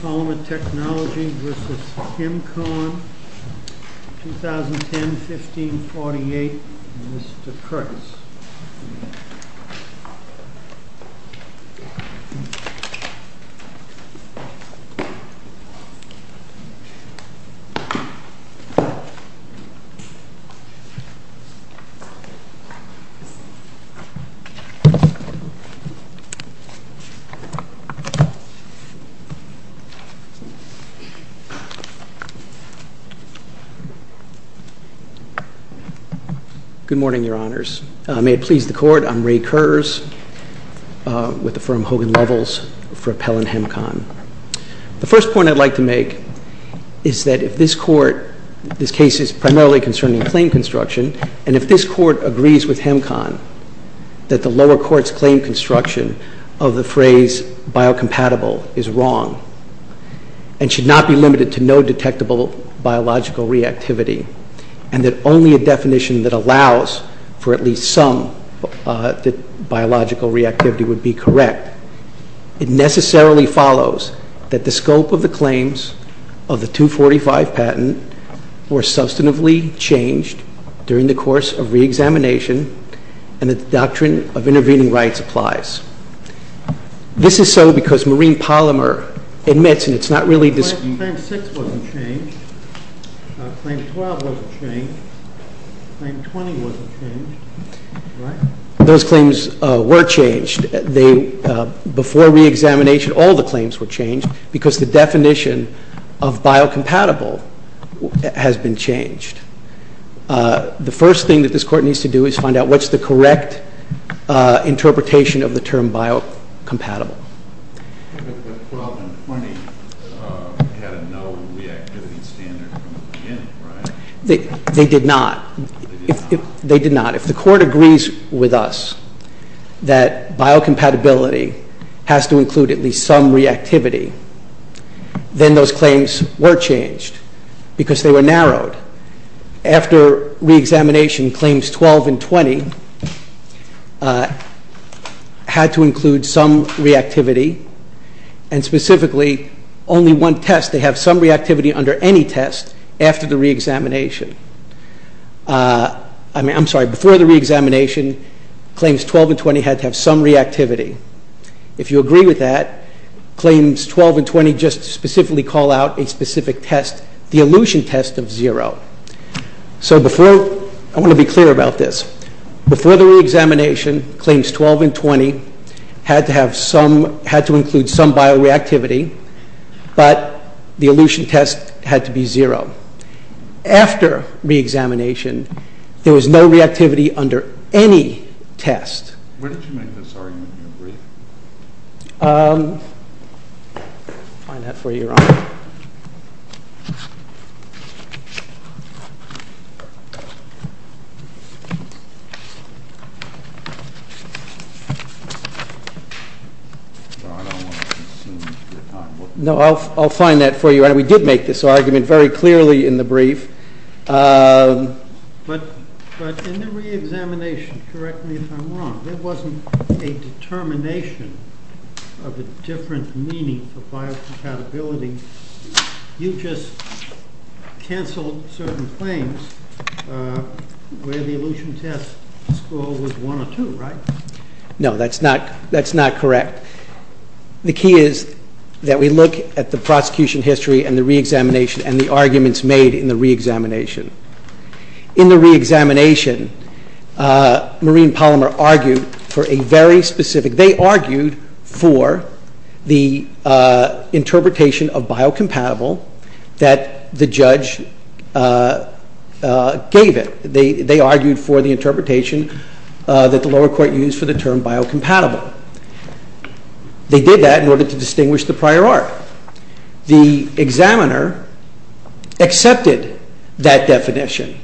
POLYMER TECHNOLOGY v. HEMCON 2010-15-48 Mr. Kurtz Good morning, Your Honors. May it please the Court, I'm Ray Kurz with the firm Hogan Lovells for Appellant HEMCON. The first point I'd like to make is that if this Court, this case is primarily concerning claim construction, and if this Court agrees with HEMCON that the lower court's claim construction of the phrase biocompatible is wrong, and should not be limited to no detectable biological reactivity, and that only a definition that allows for at least some biological reactivity would be correct, it necessarily follows that the scope of the claims of the 245 patent were substantively changed during the course of re-examination, and that the doctrine of intervening rights applies. This is so because Marine Polymer admits, and it's not really this… Claim 6 wasn't changed. Claim 12 wasn't changed. Claim 20 wasn't changed. Those claims were changed. Before re-examination, all the claims were changed because the definition of biocompatible has been changed. The first thing that this Court needs to do is find out what's the correct interpretation of the term biocompatible. But 12 and 20 had a no reactivity standard from the beginning, right? They did not. They did not. If the Court agrees with us that biocompatibility has to include at least some reactivity, then those claims were changed because they were narrowed. After re-examination, claims 12 and 20 had to include some reactivity, and specifically only one test. They have some reactivity under any test after the re-examination. I'm sorry, before the re-examination, claims 12 and 20 had to have some reactivity. If you agree with that, claims 12 and 20 just specifically call out a specific test, the elution test of zero. I want to be clear about this. Before the re-examination, claims 12 and 20 had to include some bioreactivity, but the elution test had to be zero. After re-examination, there was no reactivity under any test. When did you make this argument in your brief? I'll find that for you, Your Honor. Your Honor, I don't want to consume your time. No, I'll find that for you. We did make this argument very clearly in the brief. But in the re-examination, correct me if I'm wrong, there wasn't a determination of a different meaning for biocompatibility. You just canceled certain claims where the elution test score was one or two, right? No, that's not correct. The key is that we look at the prosecution history and the re-examination and the arguments made in the re-examination. In the re-examination, Marine Polymer argued for a very specific, they argued for the interpretation of biocompatible that the judge gave it. They argued for the interpretation that the lower court used for the term biocompatible. They did that in order to distinguish the prior art. The examiner accepted that definition.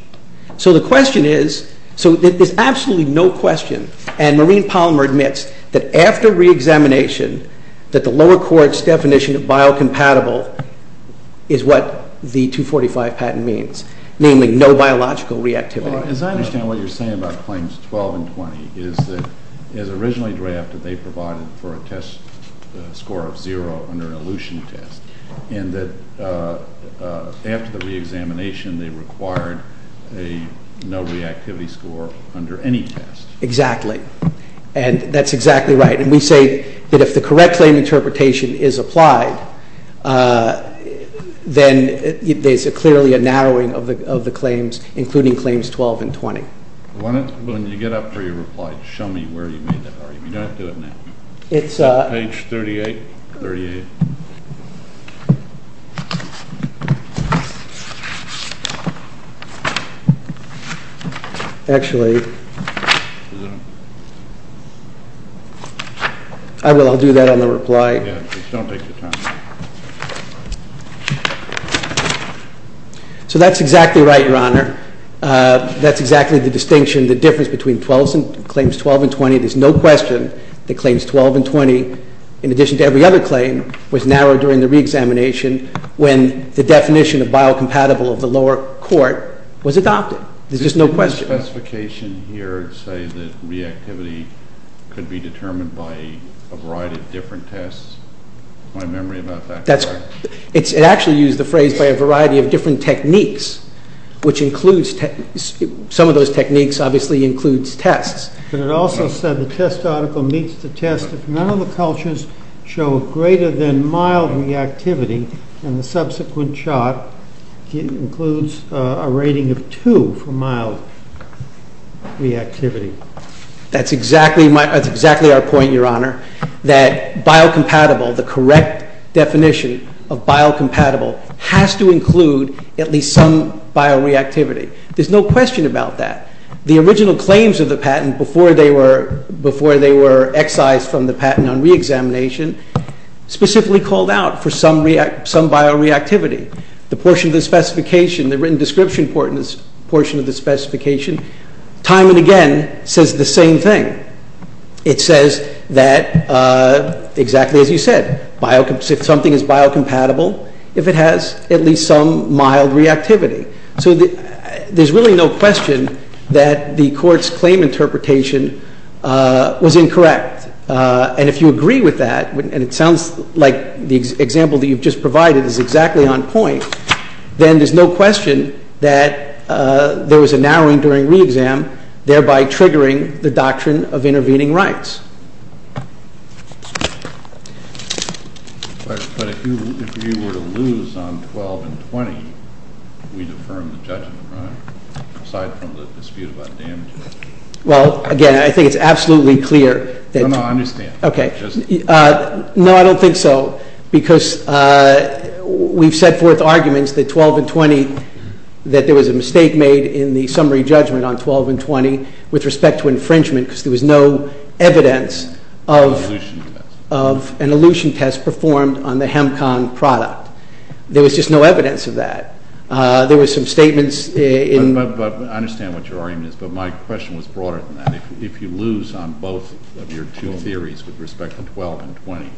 So the question is, so there's absolutely no question, and Marine Polymer admits that after re-examination, that the lower court's definition of biocompatible is what the 245 patent means, namely no biological reactivity. Well, as I understand what you're saying about claims 12 and 20, is that it was originally drafted, they provided for a test score of zero under an elution test, and that after the re-examination, they required a no reactivity score under any test. Exactly. And that's exactly right. And we say that if the correct claim interpretation is applied, then there's clearly a narrowing of the claims, including claims 12 and 20. When you get up for your reply, show me where you made that argument. You don't have to do it now. Page 38? 38. Actually, I will. I'll do that on the reply. Yeah, please don't take your time. So that's exactly right, Your Honor. That's exactly the distinction, the difference between claims 12 and 20. There's no question that claims 12 and 20, in addition to every other claim, was narrowed during the re-examination when the definition of biocompatible of the lower court was adopted. There's just no question. The specification here would say that reactivity could be determined by a variety of different tests? Am I memory about that correct? It actually used the phrase by a variety of different techniques, which includes, some of those techniques obviously includes tests. But it also said the test article meets the test if none of the cultures show greater than mild reactivity, and the subsequent chart includes a rating of 2 for mild reactivity. That's exactly our point, Your Honor. That biocompatible, the correct definition of biocompatible, has to include at least some bioreactivity. There's no question about that. The original claims of the patent, before they were excised from the patent on re-examination, specifically called out for some bioreactivity. The portion of the specification, the written description portion of the specification, time and again, says the same thing. It says that, exactly as you said, if something is biocompatible, if it has at least some bioreactivity, that the court's claim interpretation was incorrect. And if you agree with that, and it sounds like the example that you've just provided is exactly on point, then there's no question that there was a narrowing during re-exam, thereby triggering the doctrine of intervening rights. But if you were to lose on 12 and 20, we'd affirm the judgment, right? Well, again, I think it's absolutely clear. No, I don't think so, because we've set forth arguments that 12 and 20, that there was a mistake made in the summary judgment on 12 and 20 with respect to infringement, because there was no evidence of an elution test performed on the Hemcon product. There was just no evidence of that. There was some statements in... I understand what your argument is, but my question was broader than that. If you lose on both of your two theories with respect to 12 and 20,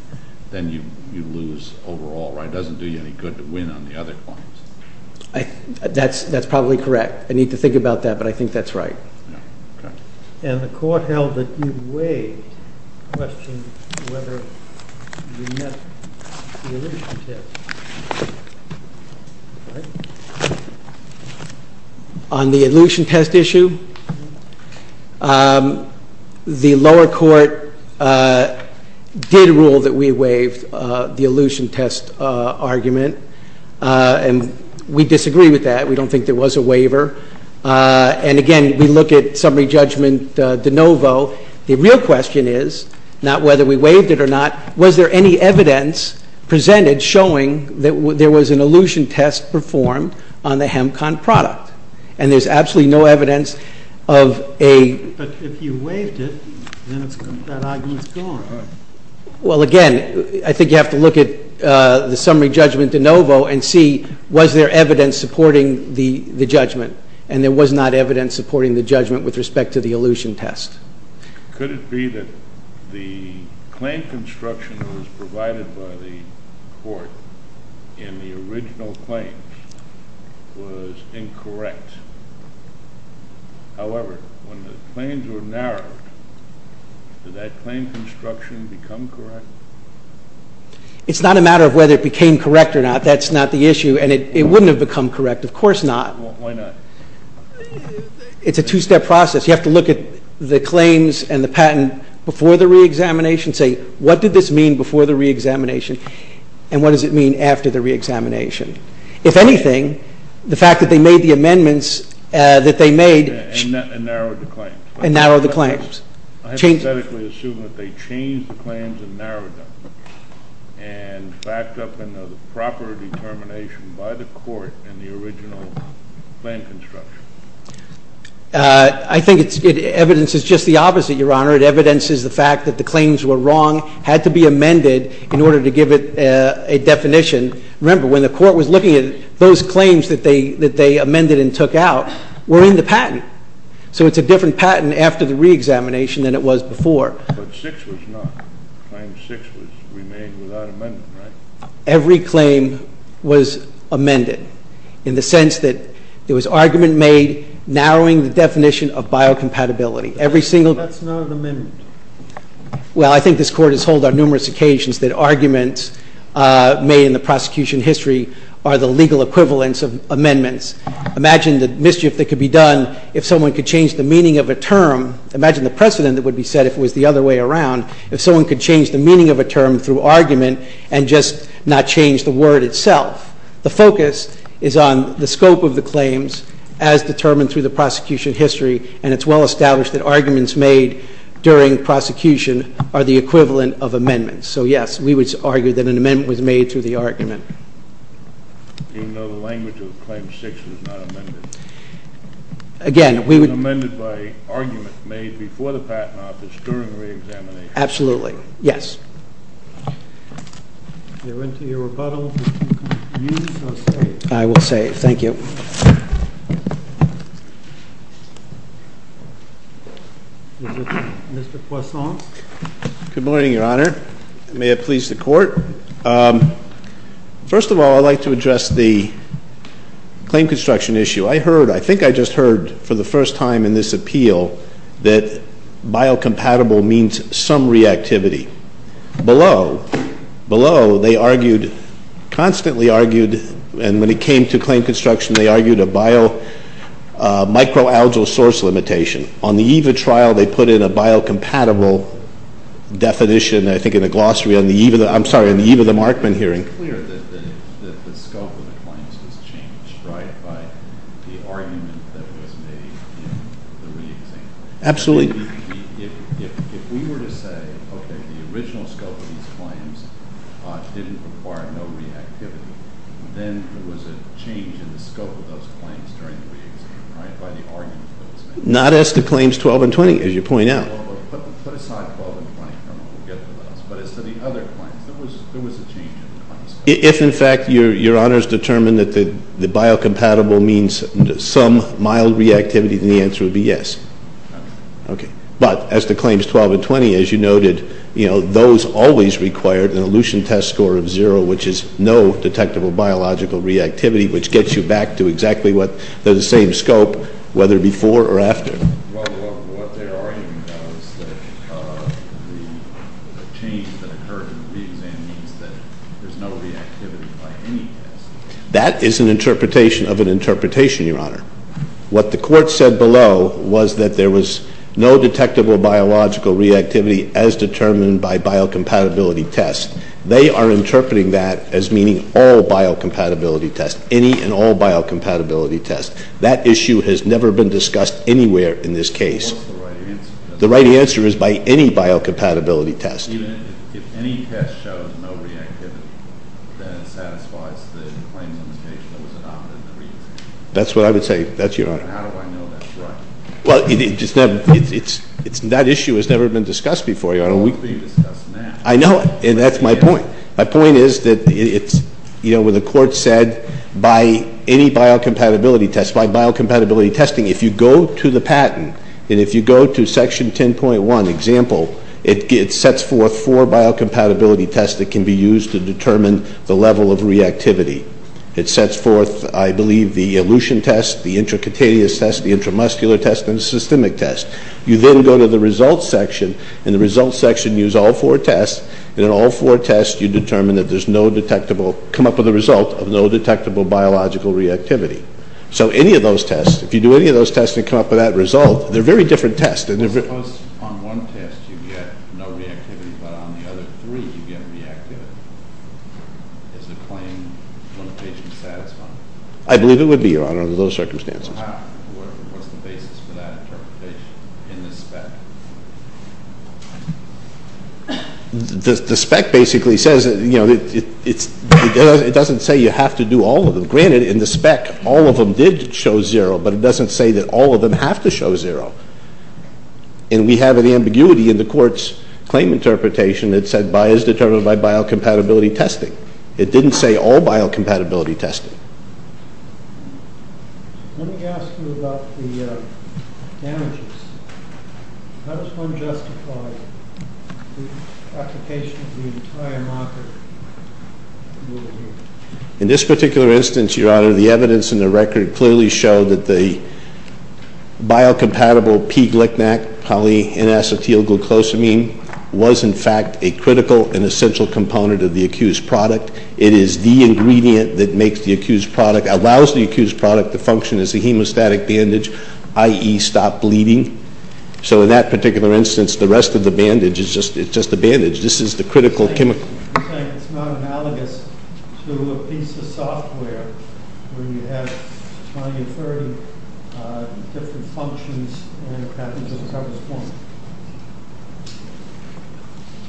then you lose overall, right? It doesn't do you any good to win on the other points. That's probably correct. I need to think about that, but I think that's right. And the court held that you waived questions whether you met the elution test. On the elution test issue, the lower court did rule that we waived the elution test argument. And we disagree with that. We don't think there was a waiver. And again, we look at summary judgment de novo. The real question is, not whether we waived it or not, was there any evidence presented showing that there was an elution test performed on the Hemcon product? And there's absolutely no evidence of a... But if you waived it, then that argument's gone. Well, again, I think you have to look at the summary judgment de novo and see, was there evidence supporting the judgment? And there was not evidence supporting the judgment with respect to the elution test. Could it be that the claim construction that was provided by the court in the original claims was incorrect? However, when the claims were narrowed, did that claim construction become correct? It's not a matter of whether it became correct or not. That's not the issue. And it wouldn't have become correct. Of course not. It's a two-step process. You have to look at the claims and the patent before the re-examination, say, what did this mean before the re-examination, and what does it mean after the re-examination? If anything, the fact that they made the amendments that they made... And narrowed the claims. And narrowed the claims. I hypothetically assume that they changed the claims and narrowed them and backed up into the proper determination by the court in the original claim construction. I think evidence is just the opposite, Your Honor. Evidence is the fact that the claims were wrong, had to be amended in order to give it a definition. Remember, when the court was looking at those claims that they amended and took out, were in the patent. So it's a different patent after the re-examination than it was before. But 6 was not. Claim 6 was made without amendment, right? Every claim was amended, in the sense that there was argument made narrowing the definition of biocompatibility. That's not an amendment. Well, I think this Court has told on numerous occasions that arguments made in the prosecution history are the legal equivalents of amendments. Imagine the mischief that could be done if someone could change the meaning of a term. Imagine the precedent that would be set if it was the other way around. If someone could change the meaning of a term through argument and just not change the word itself. The focus is on the scope of the claims as determined through the prosecution history. And it's well established that arguments made during prosecution are the equivalent of amendments. So yes, we would argue that an amendment was made through the argument. Even though the language of Claim 6 was not amended. Again, we would... It was amended by argument made before the patent office during the re-examination. Absolutely. Yes. If you're into your rebuttal, if you're confused, I'll save. I will save. Thank you. Mr. Poisson. Good morning, Your Honor. May it please the Court. First of all, I'd like to address the claim construction issue. I heard, I think I just heard for the first time in this appeal that biocompatible means some reactivity. Below, below, they argued constantly argued, and when it came to claim construction, they argued a bio microalgal source limitation. On the EVA trial, they put in a biocompatible definition, I think in the glossary on the EVA, I'm sorry, on the EVA, the Markman hearing. It's clear that the scope of the claims was changed, right, by the argument that was made in the re-examination. Absolutely. If we were to say, okay, the original scope of these claims didn't require no reactivity, then there was a change in the scope of those claims during the re-examination, right, by the argument that was made. Not as to claims 12 and 20, as you point out. If, in fact, your honors determined that the biocompatible means some mild reactivity, then the answer would be yes. But, as to claims 12 and 20, as you noted, you know, those always required an elution test score of zero, which is no detectable biological reactivity, which gets you back to exactly what, they're the same Well, what their argument was that the change that occurred in the re-exam means that there's no reactivity by any test. That is an interpretation of an interpretation, your honor. What the court said below was that there was no detectable biological reactivity as determined by biocompatibility tests. They are interpreting that as meaning all biocompatibility tests. Any and all biocompatibility tests. That issue has never been discussed anywhere in this case. The right answer is by any biocompatibility test. That's what I would say, that's your honor. Well, that issue has never been discussed before, your honor. I know it, and that's my point. My point is that it's, you know, when the court said by any biocompatibility testing, if you go to the patent, and if you go to section 10.1 example, it sets forth four biocompatibility tests that can be used to determine the level of reactivity. It sets forth, I believe, the elution test, the intracutaneous test, the intramuscular test, and the systemic test. You then go to the results section and the results section use all four tests, and in all four tests you determine that there's no detectable, come up with a result of no detectable biological reactivity. So any of those tests, if you do any of those tests and come up with that result, they're very different tests. Suppose on one test you get no reactivity but on the other three you get reactivity. Is the claim when the patient's satisfied? I believe it would be, your honor, under those circumstances. What's the basis for that interpretation in the spec? The spec basically says, you know, it doesn't say you have to do all of them. Granted, in the spec, all of them did show zero, but it doesn't say that all of them have to show zero. And we have an ambiguity in the court's claim interpretation that said bi is determined by biocompatibility testing. It didn't say all biocompatibility testing. Let me ask you about the damages. How does one justify the application of the entire marker rule here? In this particular instance, your honor, the evidence in the record clearly showed that the biocompatible P-glc-nac-poly-inacetylglucosamine was in fact a critical and essential component of the accused product. It is the ingredient that makes the accused product, allows the accused product to function as a hemostatic bandage, i.e. stop bleeding. So in that particular instance, the rest of the bandage is just a bandage. This is the critical chemical. Do you think it's not analogous to a piece of software where you have 20 or 30 different functions and it happens at a certain point?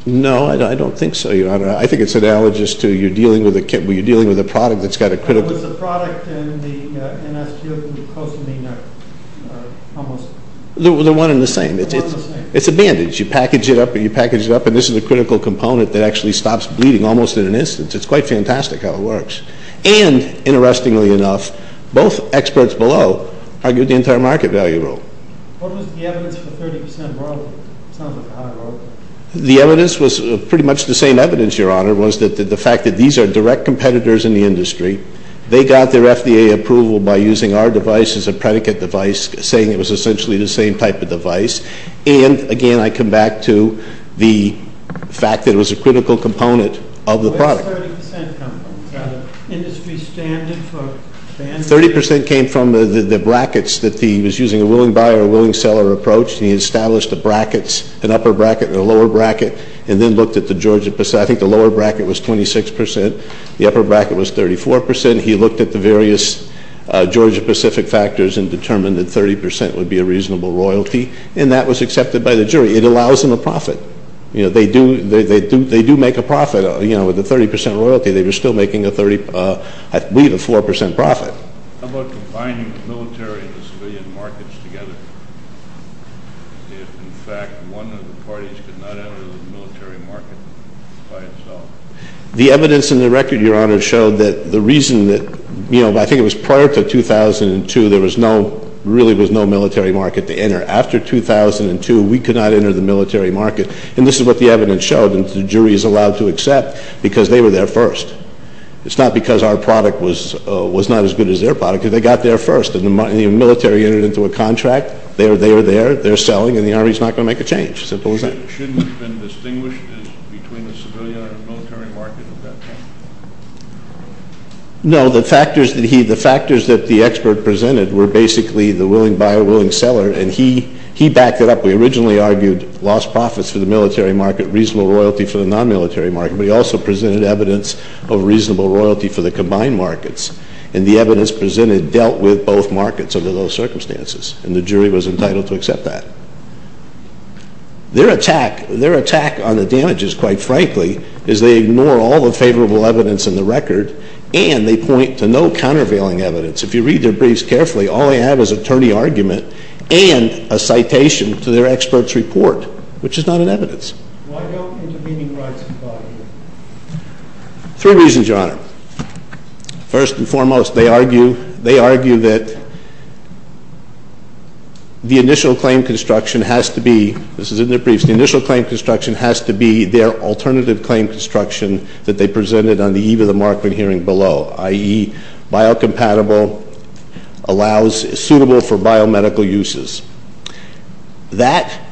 No, I don't think so, your honor. I think it's analogous to when you're dealing with a product that's got a critical... Was the product in the NSGL-glucosamine almost... They're one and the same. It's a bandage. You package it up and you package it up and this is the critical component that actually stops bleeding almost in an instance. It's quite fantastic how it works. And, interestingly enough, both experts below argued the entire market value rule. What was the evidence for 30% role? The evidence was pretty much the same evidence, your honor, was that the fact that these are direct competitors in the industry. They got their FDA approval by using our device as a predicate device, saying it was essentially the same type of device. And, again, I come back to the fact that it was a critical component of the product. Where did 30% come from? The industry standard for bandages? 30% came from the brackets that he was using, a willing buyer, a willing buyer who looked at the brackets, an upper bracket and a lower bracket, and then looked at the Georgia Pacific. I think the lower bracket was 26%. The upper bracket was 34%. He looked at the various Georgia Pacific factors and determined that 30% would be a reasonable royalty. And that was accepted by the jury. It allows them a profit. They do make a profit with the 30% royalty. They were still making a 4% profit. How about combining the military and the fact that one of the parties could not enter the military market by itself? The evidence in the record, your honor, showed that the reason that you know, I think it was prior to 2002, there was no, really was no military market to enter. After 2002, we could not enter the military market. And this is what the evidence showed, and the jury is allowed to accept, because they were there first. It's not because our product was not as good as their product, because they got there first. And the military entered into a contract. They are there, they're selling, and the Army's not going to make a change. Simple as that. Shouldn't it have been distinguished as between the civilian or military market at that point? No, the factors that he, the factors that the expert presented were basically the willing buyer, willing seller, and he backed it up. We originally argued lost profits for the military market, reasonable royalty for the non-military market, but he also presented evidence of reasonable royalty for the combined markets. And the evidence presented dealt with both markets under those circumstances, and the jury was entitled to accept that. Their attack, their attack on the damages, quite frankly, is they ignore all the favorable evidence in the record, and they point to no countervailing evidence. If you read their briefs carefully, all they have is attorney argument and a citation to their expert's report, which is not an evidence. Why don't intervening rights comply here? Three reasons, Your Honor. First and foremost, they argue that the initial claim construction has to be, this is in their briefs, the initial claim construction has to be their alternative claim construction that they presented on the eve of the Markman hearing below, i.e. biocompatible allows suitable for biomedical uses. That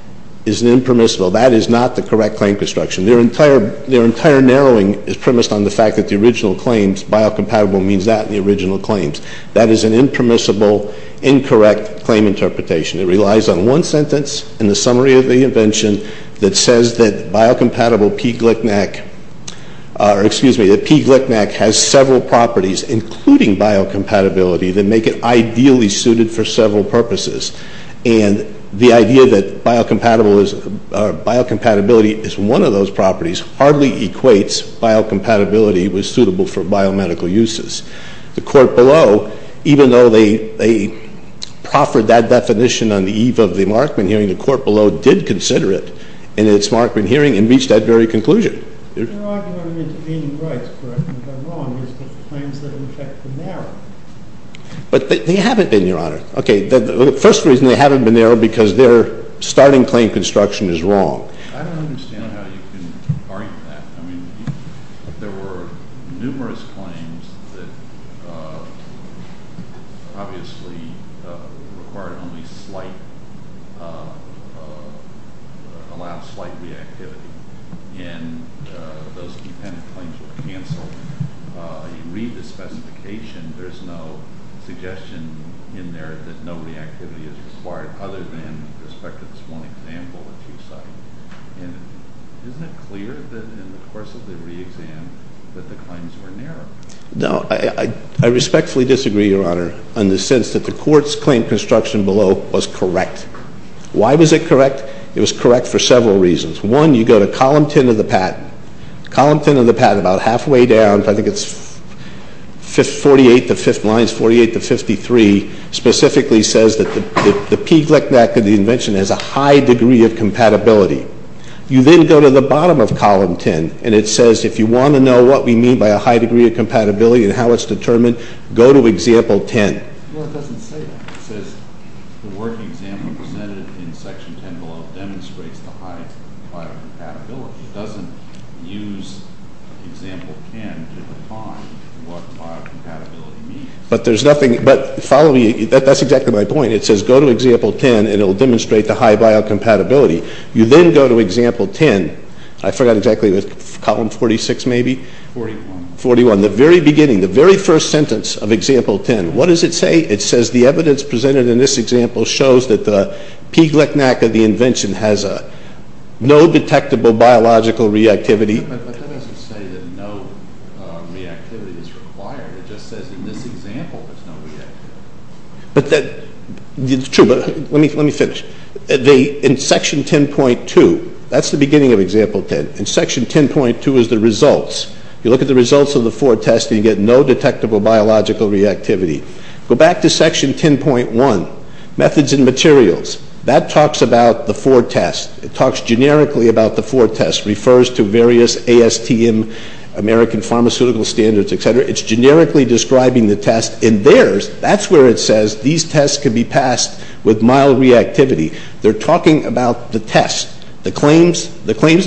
is an impermissible. That is not the correct claim construction. Their entire narrowing is premised on the fact that the original claims, biocompatible means that in the original claims. That is an impermissible, incorrect claim interpretation. It relies on one sentence in the summary of the invention that says that biocompatible P. glicknac or excuse me, that P. glicknac has several properties, including biocompatibility, that make it ideally suited for several purposes. And the idea that biocompatibility is one of those properties hardly equates biocompatibility with suitable for biomedical uses. The court below, even though they proffered that definition on the eve of the Markman hearing, the court below did consider it in its Markman hearing and reached that very conclusion. The argument of intervening rights, correct me if I'm wrong, is that the claims that are in effect are narrow. But they haven't been, Your Honor. Okay, the first reason they haven't been narrowed is because their starting claim construction is wrong. I don't understand how you can argue that. I mean, there were numerous claims that obviously required only slight, allowed slight reactivity. And those dependent claims were canceled. You read the specification, there's no suggestion in there that no reactivity is required other than with respect to this one example that you cite. And isn't it clear that in the course of the re-exam that the claims were narrow? No, I respectfully disagree, Your Honor, in the sense that the court's claim construction below was correct. Why was it correct? It was correct for several reasons. One, you go to column 10 of the patent. Column 10 of the patent, about halfway down, I think it's 48th of 5th lines, 48th of 53, specifically says that the P. Glicknack of the invention has a high degree of compatibility. You then go to the bottom of column 10, and it says if you want to know what we mean by a high degree of compatibility and how it's determined, go to example 10. Well, it doesn't say that. It says the working example presented in section 10 below demonstrates the high level of compatibility. It doesn't use example 10 to define what bio-compatibility means. But there's nothing, but follow me, that's exactly my point. It says go to example 10 and it will demonstrate the high bio-compatibility. You then go to example 10, I forgot exactly, column 46 maybe? 41. 41, the very beginning, the very first sentence of example 10. What does it say? It says the evidence presented in this example shows that the P. Glicknack of the invention has no detectable biological reactivity. But that doesn't say that no reactivity is required. It just says in this example there's no reactivity. It's true, but let me finish. In section 10.2, that's the beginning of example 10. In section 10.2 is the results. You look at the results of the four tests and you get no detectable biological reactivity. Go back to section 10.1, methods and materials. That talks about the four tests. It talks generically about the four tests, refers to various ASTM, American Pharmaceutical Standards, etc. It's generically describing the test. In theirs, that's where it says these tests can be passed with mild reactivity. They're talking about the test. The claims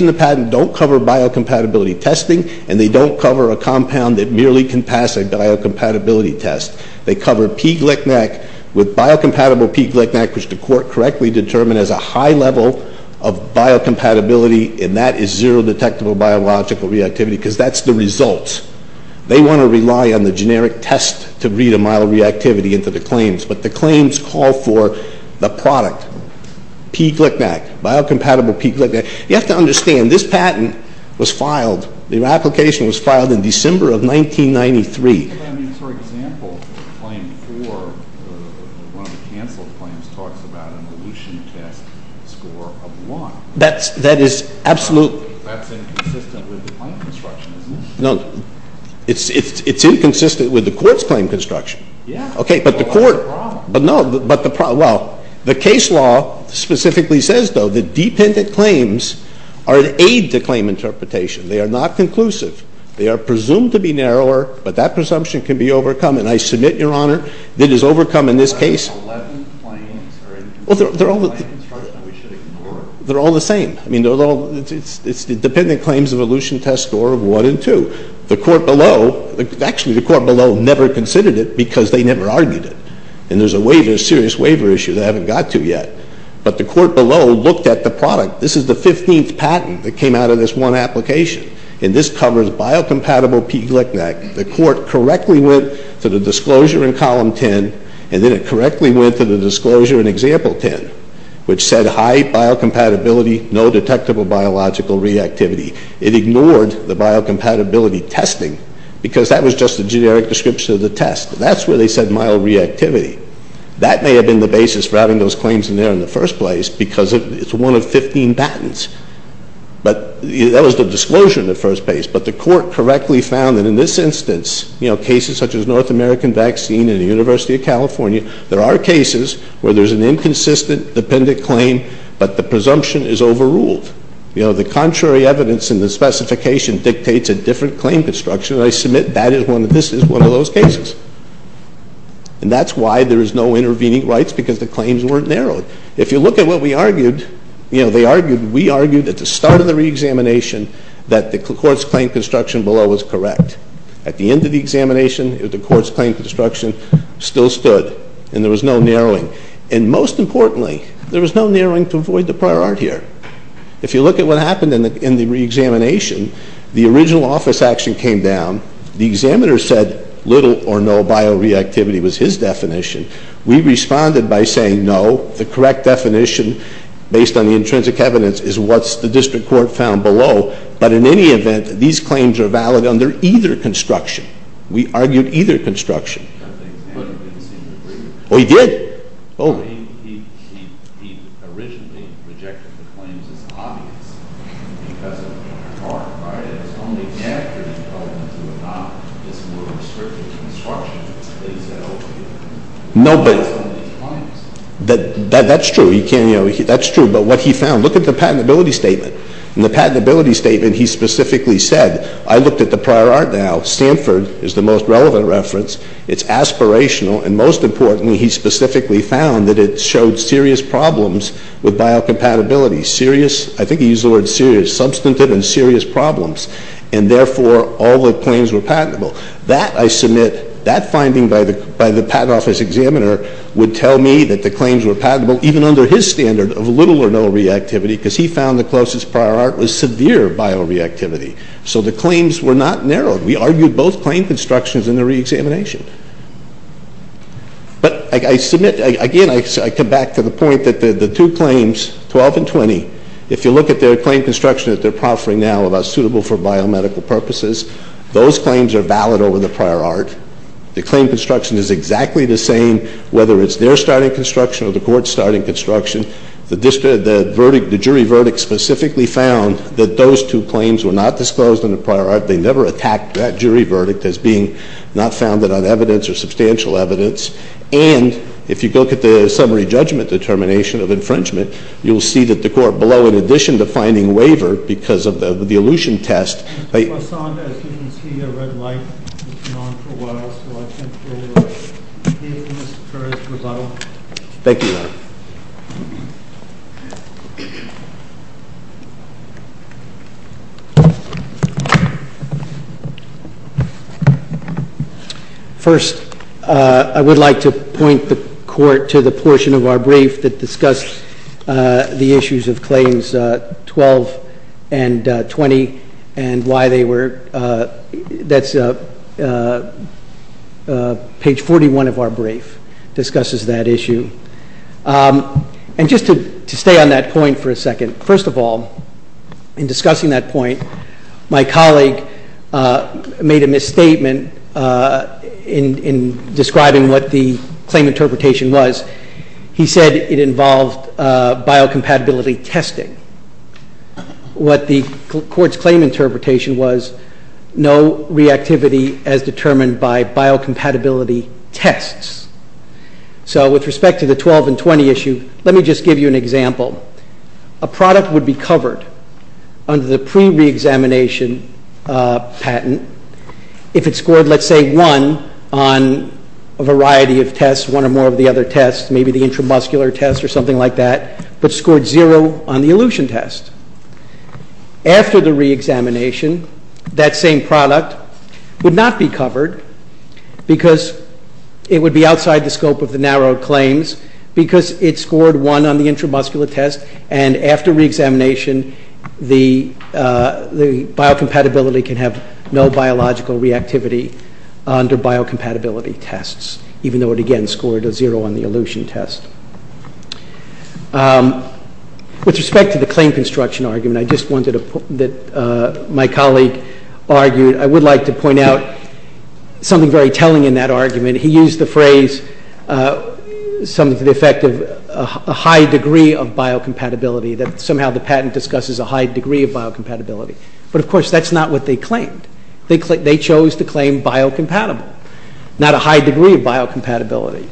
in the patent don't cover bio-compatibility testing and they don't cover a compound that merely can pass a bio-compatibility test. They cover P. Glicknack with bio-compatible P. Glicknack, which the court correctly determined as a high level of bio-compatibility and that is zero detectable biological reactivity because that's the results. They want to rely on the generic test to read a mild reactivity into the claims, but the claims call for the product. P. Glicknack, bio-compatible P. Glicknack. You have to understand, this patent was filed, the application was filed in December of 1993. For example, claim 4, one of the cancelled claims, talks about an elution test score of 1. That's inconsistent with the claim construction, isn't it? It's inconsistent with the court's claim construction. The case law specifically says, though, that dependent claims are an aid to claim interpretation. They are not conclusive. They are presumed to be narrower, but that presumption can be overcome and I submit, Your Honor, it is overcome in this case. They're all the same. It's the dependent claims elution test score of 1 and 2. The court below, actually the court below never considered it because they never argued it. And there's a waiver, a serious waiver issue that I haven't got to yet. But the court below looked at the product. This is the 15th patent that came out of this one application and this covers bio-compatible P. Glicknack. The court correctly went to the disclosure in column 10 and then it correctly went to the disclosure in example 10, which said high bio-compatibility, no detectable biological reactivity. It ignored the bio-compatibility testing because that was just a generic description of the test. That's where they said mild reactivity. That may have been the basis for having those claims in there in the first place because it's one of 15 patents. But that was the disclosure in the first place. But the court correctly found that in this instance, you know, cases such as North American vaccine and the University of California, there are cases where there's an inconsistent dependent claim but the presumption is overruled. You know, the contrary evidence in the specification dictates a different claim construction and I submit that this is one of those cases. And that's why there is no intervening rights because the claims weren't narrowed. If you look at what we argued, you know, they argued, we argued at the start of the re-examination that the court's claim construction below was correct. At the end of the examination, the court's claim construction still stood and there was no narrowing. And most importantly, there was no narrowing to avoid the prior art here. If you look at what happened in the re-examination, the original office action came down. The examiner said little or no bioreactivity was his definition. We responded by saying no, the correct definition based on the intrinsic evidence is what the district court found below. But in any event, these claims are valid under either construction. We argued either construction. Oh, he did. No, but that's true. That's true. But what he found, look at the patentability statement. In the patentability statement, he specifically said, I looked at the prior art now. Stanford is the most relevant reference. It's aspirational. And most importantly, he specifically found that it showed serious problems with biocompatibility. Serious, I think he used the word serious, substantive and serious problems. And therefore, all the claims were patentable. That, I submit, that finding by the patent office examiner would tell me that the claims were patentable, even under his standard of little or no reactivity, because he found the closest prior art was severe bioreactivity. So the claims were not narrowed. We argued both claim constructions in the reexamination. But I submit, again, I come back to the point that the two claims, 12 and 20, if you look at their claim construction that they're proffering now about suitable for biomedical purposes, those claims are valid over the prior art. The claim construction is exactly the same, whether it's their starting construction or the court's starting construction. The jury verdict specifically found that those two claims were not narrowed. They never attacked that jury verdict as being not founded on evidence or substantial evidence. And if you look at the summary judgment determination of infringement, you'll see that the court below, in addition to finding waiver because of the elution test, they...... Thank you, Your Honor.... First, I would like to point the court to the portion of our brief that discussed the issues of claims 12 and 20 and why they were... ...page 41 of our brief discusses that issue. And just to stay on that point for a second. First of all, in discussing that I made a misstatement in describing what the claim interpretation was. He said it involved biocompatibility testing. What the court's claim interpretation was, no reactivity as determined by biocompatibility tests. So with respect to the 12 and 20 issue, let me just give you an example. A product would be covered under the pre-reexamination patent if it scored, let's say, one on a variety of tests, one or more of the other tests, maybe the intramuscular test or something like that, but scored zero on the elution test. After the reexamination, that same product would not be covered because it would be outside the scope of the narrow claims because it scored one on the intramuscular test and after reexamination the biocompatibility can have no biological reactivity under biocompatibility tests even though it again scored a zero on the elution test. With respect to the claim construction argument, I just wanted to put that my colleague argued, I would like to point out something very telling in that argument. He used the phrase something to the effect of a high degree of biocompatibility that somehow the patent discusses a high degree of biocompatibility, but of course that's not what they claimed. They chose to claim biocompatible not a high degree of biocompatibility.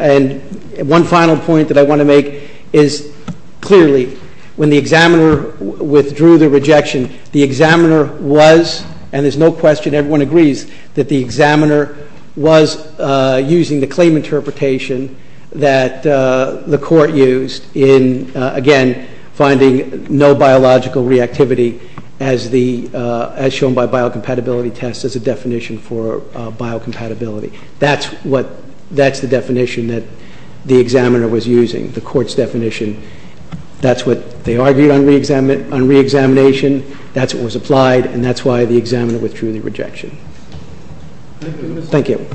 And one final point that I want to make is clearly when the examiner withdrew the rejection, the examiner was, and there's no question, everyone agrees, that the examiner was using the claim interpretation that the court used in, again, finding no biological reactivity as shown by biocompatibility tests as a definition for biocompatibility. That's the definition that the examiner was using, the court's definition. That's what they argued on reexamination, that's what was applied, and that's why the examiner withdrew the rejection. Thank you.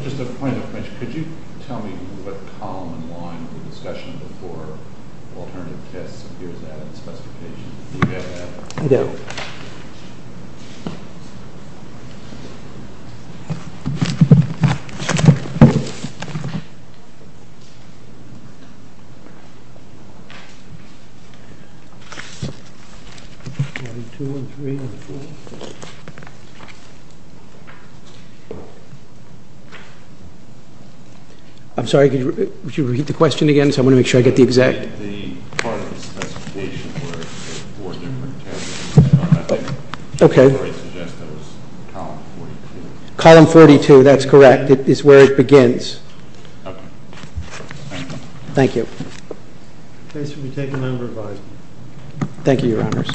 I'm sorry, could you repeat the question again? Because I want to make sure I get the exact... The part of the specification where it said four different tests, I think you already suggested it was column 42. Column 42, that's correct. It's where it begins. Thank you. Thank you, Your Honors.